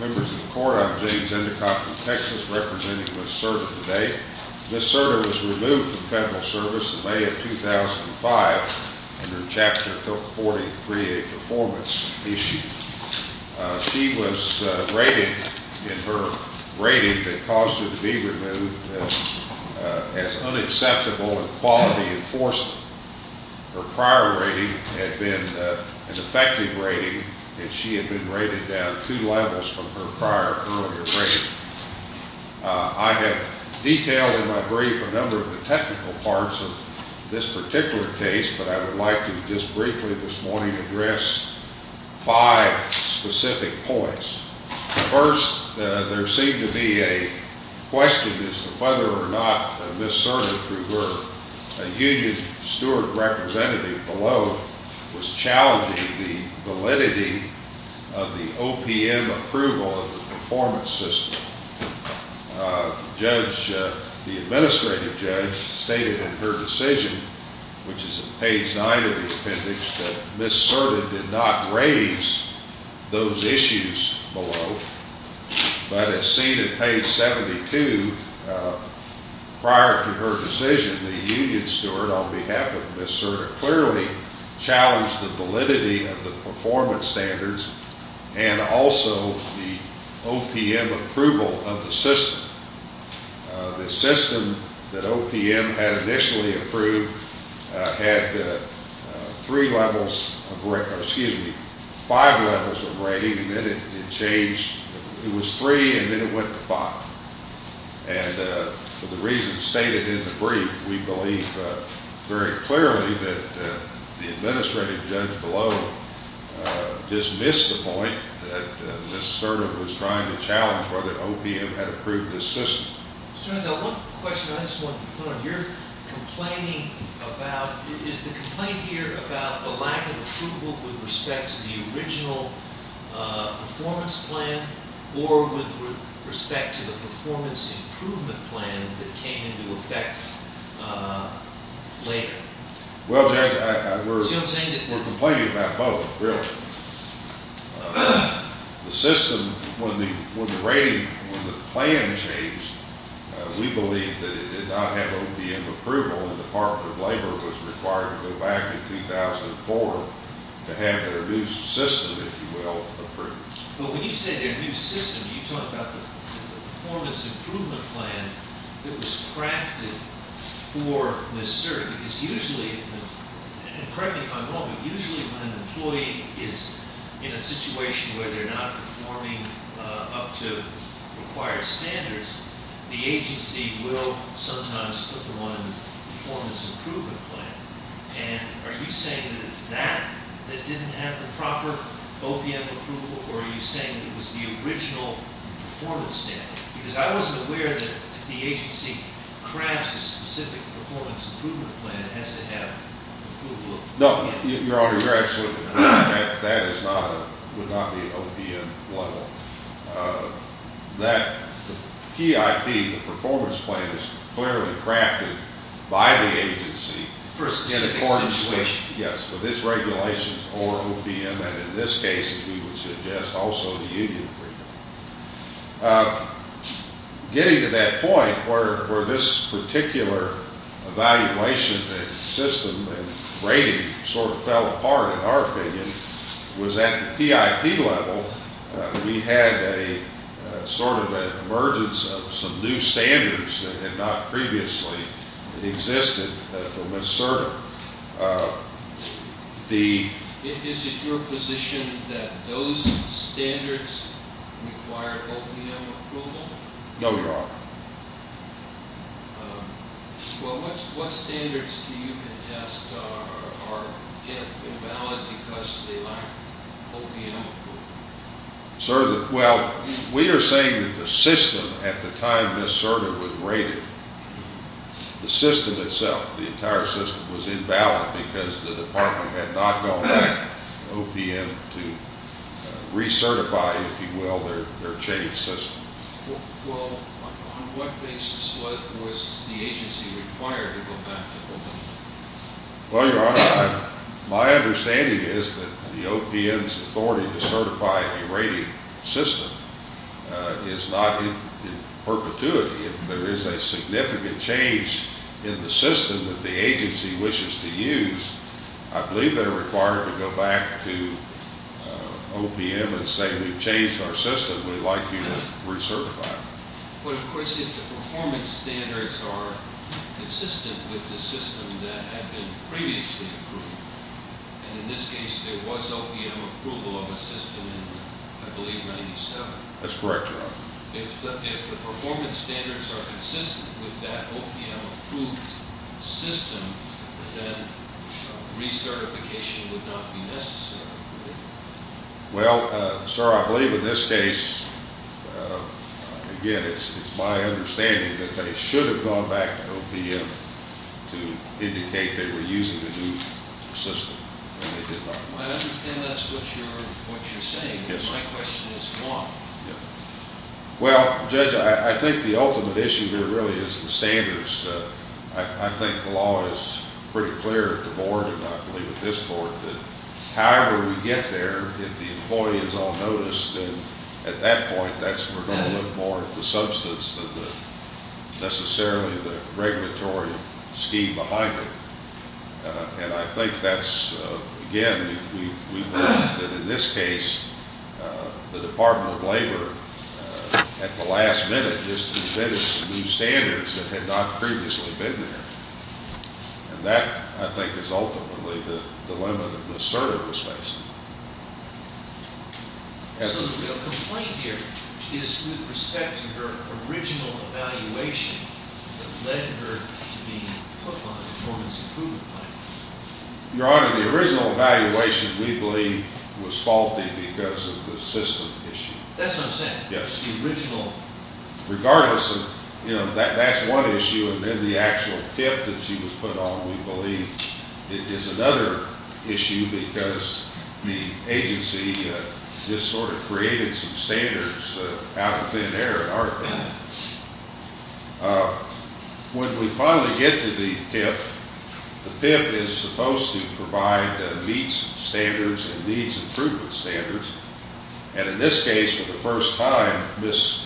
Members of the Court, I'm James Endicott from Texas, representing Ms. Cerda today. Ms. Cerda was removed from federal service in May of 2005 under Chapter 43, a performance issue. She was rated in her rating that caused her to be removed as unacceptable in quality enforcement. Her prior rating had been an effective rating, and she had been rated down two levels from her prior earlier rating. I have detailed in my brief a number of the technical parts of this particular case, but I would like to just briefly this morning address five specific points. First, there seemed to be a question as to whether or not Ms. Cerda, through her union steward representative below, was challenging the validity of the OPM approval of the performance system. The administrative judge stated in her decision, which is in page 9 of the appendix, that Ms. Cerda did not raise those issues below, but as seen in page 72, prior to her decision, the union steward on behalf of Ms. Cerda clearly challenged the validity of the performance standards and also the OPM approval of the system. The system that OPM had initially approved had five levels of rating, and then it changed. It was three, and then it went to five, and for the reasons stated in the brief, we believe very clearly that the administrative judge below dismissed the point that Ms. Cerda was trying to challenge whether OPM had approved this system. Mr. Nadell, one question I just want to put on here. Complaining about, is the complaint here about the lack of approval with respect to the original performance plan or with respect to the performance improvement plan that came into effect later? Well, Judge, we're complaining about both, really. The system, when the rating, when the plan changed, we believe that it did not have OPM approval, and the Department of Labor was required to go back in 2004 to have their new system, if you will, approved. But when you say their new system, you talk about the performance improvement plan that was crafted for Ms. Cerda, because usually, and correct me if I'm wrong, but usually when an employee is in a situation where they're not performing up to required standards, the agency will sometimes put them on a performance improvement plan. And are you saying that it's that that didn't have the proper OPM approval, or are you saying it was the original performance standard? Because I wasn't aware that if the agency crafts a specific performance improvement plan, it has to have approval. No, Your Honor, you're absolutely correct. That is not, would not be OPM level. That PIP, the performance plan, is clearly crafted by the agency. For a specific situation. Yes. So this regulation is for OPM, and in this case, we would suggest also the union approval. Getting to that point where this particular evaluation system and rating sort of fell apart, in our opinion, was at the PIP level, we had a sort of emergence of some new standards that had not previously existed for Ms. Serda. Is it your position that those standards require OPM approval? No, Your Honor. What standards do you contest are invalid because they lack OPM approval? Well, we are saying that the system at the time Ms. Serda was rated, the system itself, the entire system, was invalid because the department had not gone back to OPM to recertify, if you will, their chain system. Well, on what basis was the agency required to go back to OPM? Well, Your Honor, my understanding is that the OPM's authority to certify a rating system is not in perpetuity. If there is a significant change in the system that the agency wishes to use, I believe they are required to go back to OPM and say, we've changed our system, we'd like you to recertify it. But, of course, if the performance standards are consistent with the system that had been previously approved, and in this case there was OPM approval of a system in, I believe, 1997. That's correct, Your Honor. If the performance standards are consistent with that OPM approved system, then recertification would not be necessary, would it? Well, sir, I believe in this case, again, it's my understanding that they should have gone back to OPM to indicate they were using a new system. I understand that's what you're saying, but my question is why? Well, Judge, I think the ultimate issue here really is the standards. I think the law is pretty clear at the Board, and I believe at this Court, that however we get there, if the employee is all noticed, then at that point we're going to look more at the substance than necessarily the regulatory scheme behind it. And I think that's, again, we believe that in this case, the Department of Labor at the last minute just invented new standards that had not previously been there. And that, I think, is ultimately the dilemma that Ms. Serder was facing. So the real complaint here is with respect to her original evaluation that led her to be put on a performance improvement plan. Your Honor, the original evaluation, we believe, was faulty because of the system issue. That's what I'm saying. Yes. Regardless of, you know, that's one issue. And then the actual PIP that she was put on, we believe, is another issue because the agency just sort of created some standards out of thin air in our opinion. When we finally get to the PIP, the PIP is supposed to provide meets standards and needs improvement standards. And in this case, for the first time, Ms.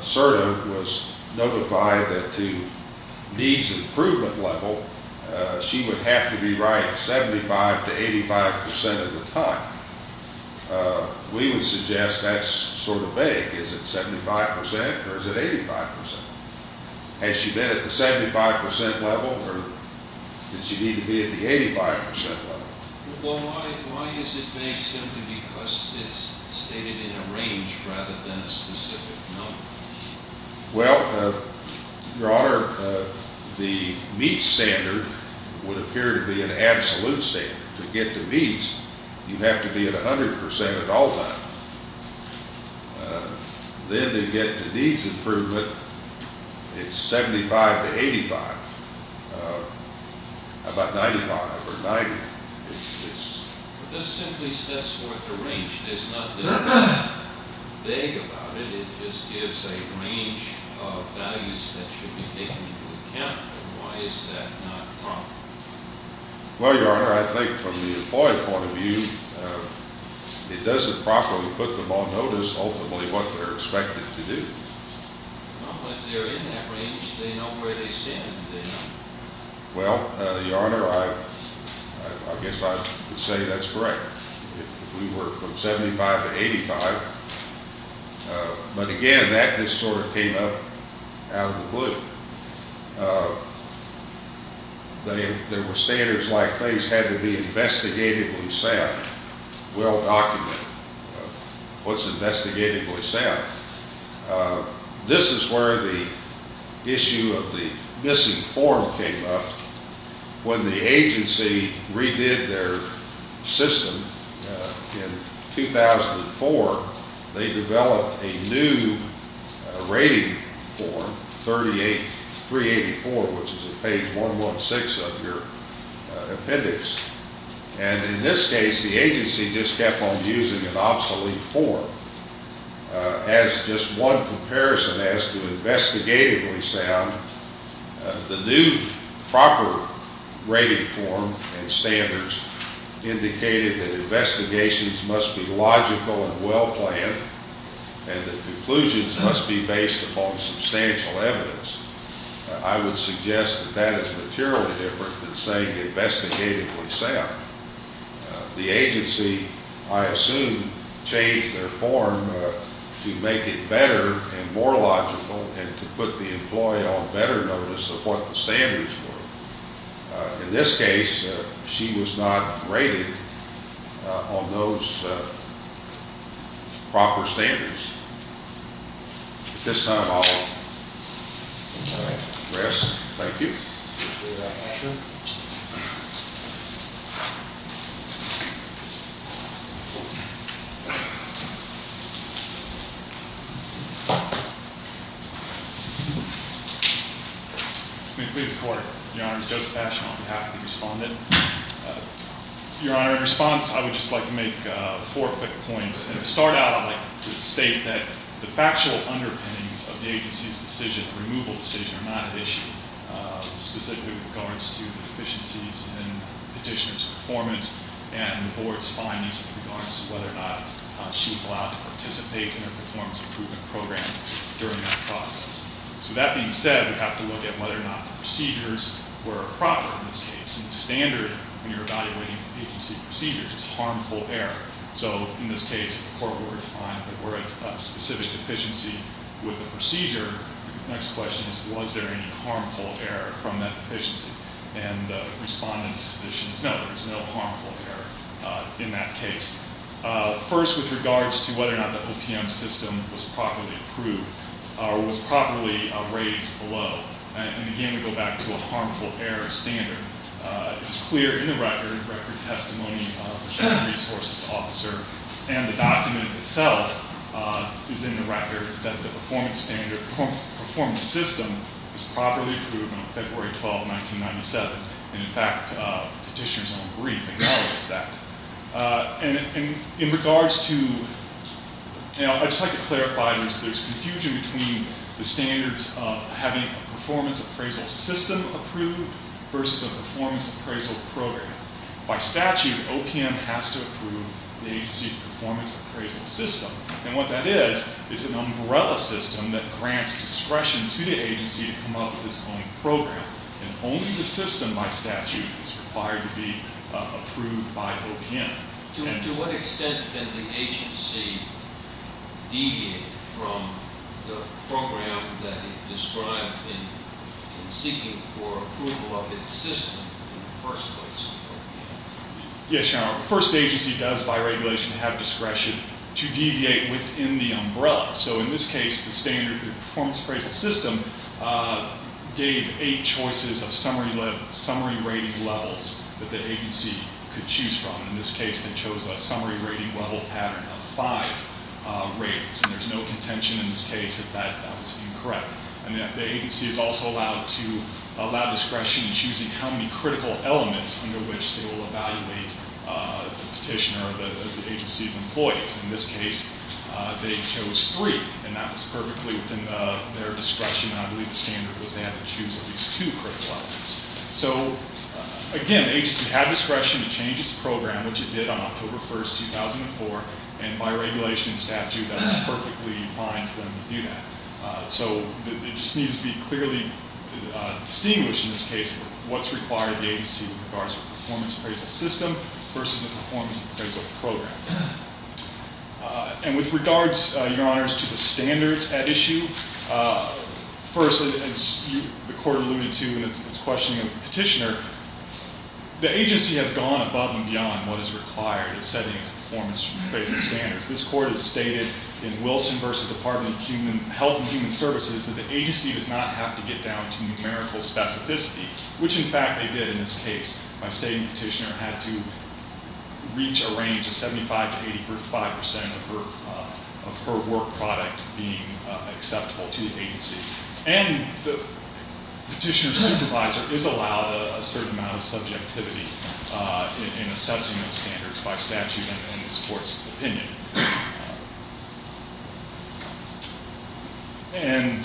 Serder was notified that to needs improvement level, she would have to be right 75 to 85 percent of the time. We would suggest that's sort of vague. Is it 75 percent or is it 85 percent? Has she been at the 75 percent level or did she need to be at the 85 percent level? Well, why is it vague simply because it's stated in a range rather than a specific number? Well, Your Honor, the meets standard would appear to be an absolute standard. To get the meets, you have to be at 100 percent at all times. Then to get to needs improvement, it's 75 to 85, about 95 or 90. But that simply sets forth a range. It's not that it's vague about it. It just gives a range of values that should be taken into account. And why is that not proper? Well, Your Honor, I think from the employee point of view, it doesn't properly put them on notice ultimately what they're expected to do. Well, Your Honor, I guess I would say that's correct. If we were from 75 to 85, but again, that just sort of came up out of the blue. There were standards like these had to be investigated and set, well documented. What's investigated and set? This is where the issue of the missing form came up. When the agency redid their system in 2004, they developed a new rating form, 384, which is at page 116 of your appendix. And in this case, the agency just kept on using an obsolete form as just one comparison as to investigatively sound. The new proper rating form and standards indicated that investigations must be logical and well planned and that conclusions must be based upon substantial evidence. I would suggest that that is materially different than saying investigatively sound. The agency, I assume, changed their form to make it better and more logical and to put the employee on better notice of what the standards were. In this case, she was not rated on those proper standards. At this time, I'll address. Thank you. Your Honor, I would just like to make four quick points. And to start out, I'd like to state that the factual underpinnings of the agency's decision, the removal decision, are not at issue, specifically with regards to the deficiencies in the petitioner's performance and the board's findings with regards to whether or not she was allowed to participate in their performance improvement program during that process. So that being said, we have to look at whether or not the procedures were proper in this case. And standard, when you're evaluating agency procedures, is harmful error. So in this case, the court would find that there were a specific deficiency with the procedure. The next question is, was there any harmful error from that deficiency? And the respondent's position is, no, there was no harmful error in that case. First, with regards to whether or not the OPM system was properly approved or was properly raised below. And again, we go back to a harmful error standard. It's clear in the record, record testimony of the resources officer. And the document itself is in the record that the performance standard, performance system, was properly approved on February 12, 1997. And in fact, the petitioner's own brief acknowledges that. And in regards to, you know, I'd just like to clarify, there's confusion between the standards of having a performance appraisal system approved versus a performance appraisal program. By statute, OPM has to approve the agency's performance appraisal system. And what that is, it's an umbrella system that grants discretion to the agency to come up with its own program. And only the system by statute is required to be approved by OPM. To what extent can the agency deviate from the program that is described in seeking for approval of its system in the first place? Yes, Your Honor. The first agency does, by regulation, have discretion to deviate within the umbrella. So in this case, the standard performance appraisal system gave eight choices of summary rating levels that the agency could choose from. In this case, they chose a summary rating level pattern of five rates. And there's no contention in this case that that was incorrect. And the agency is also allowed to allow discretion in choosing how many critical elements under which they will evaluate the petitioner or the agency's employees. In this case, they chose three, and that was perfectly within their discretion. I believe the standard was they had to choose at least two critical elements. So again, the agency had discretion to change its program, which it did on October 1st, 2004. And by regulation and statute, that's perfectly fine for them to do that. So it just needs to be clearly distinguished in this case what's required of the agency with regards to the performance appraisal system versus a performance appraisal program. And with regards, Your Honors, to the standards at issue, first, as the court alluded to in its questioning of the petitioner, the agency has gone above and beyond what is required in setting its performance appraisal standards. This court has stated in Wilson v. Department of Health and Human Services that the agency does not have to get down to numerical specificity, which, in fact, they did in this case. My stating petitioner had to reach a range of 75 to 85 percent of her work product being acceptable to the agency. And the petitioner's supervisor is allowed a certain amount of subjectivity in assessing those standards by statute in this court's opinion. And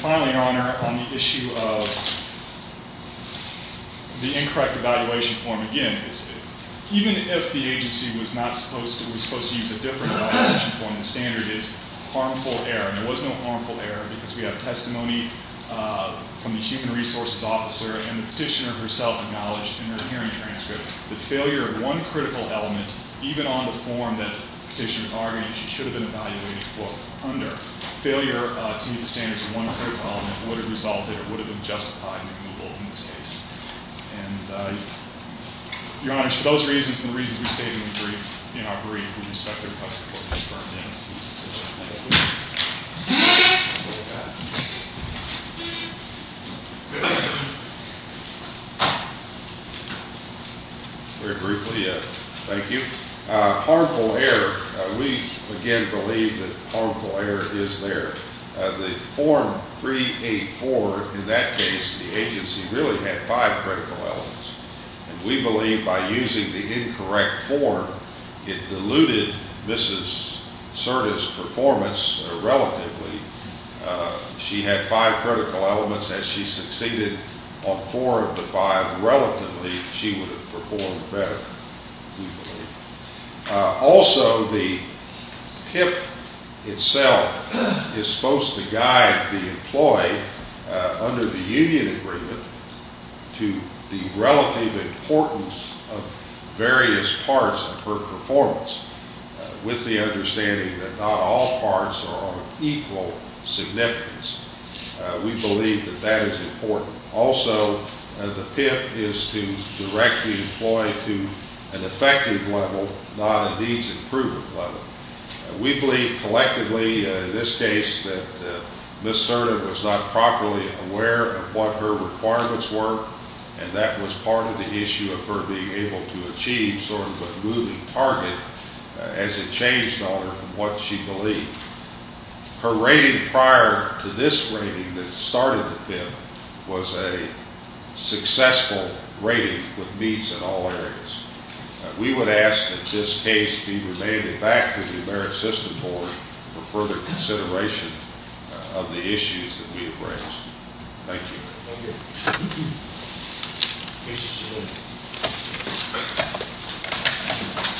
finally, Your Honor, on the issue of the incorrect evaluation form, again, even if the agency was not supposed to, was supposed to use a different evaluation form, the standard is harmful error. And there was no harmful error because we have testimony from the human resources officer and the petitioner herself acknowledged in her hearing transcript that failure of one critical element, even on the form that the petitioner argued she should have been evaluated for under, failure to meet the standards of one critical element would have resulted or would have been justified in removal in this case. And, Your Honors, for those reasons and the reasons we stated in the brief, in our brief, we expect that the rest of the court has burned down some pieces of that. Very briefly, thank you. Harmful error. We, again, believe that harmful error is there. The form 384, in that case, the agency really had five critical elements. And we believe by using the incorrect form, it diluted Mrs. Cerda's performance relatively. She had five critical elements. Had she succeeded on four of the five relatively, she would have performed better, we believe. Also, the PIP itself is supposed to guide the employee under the union agreement to the relative importance of various parts of her performance, with the understanding that not all parts are of equal significance. We believe that that is important. Also, the PIP is to direct the employee to an effective level, not a needs improvement level. We believe collectively in this case that Mrs. Cerda was not properly aware of what her requirements were, and that was part of the issue of her being able to achieve sort of a moving target as it changed on her from what she believed. Her rating prior to this rating that started the PIP was a successful rating with meets in all areas. We would ask that this case be remanded back to the American System Board for further consideration of the issues that we have raised. Thank you. Thank you.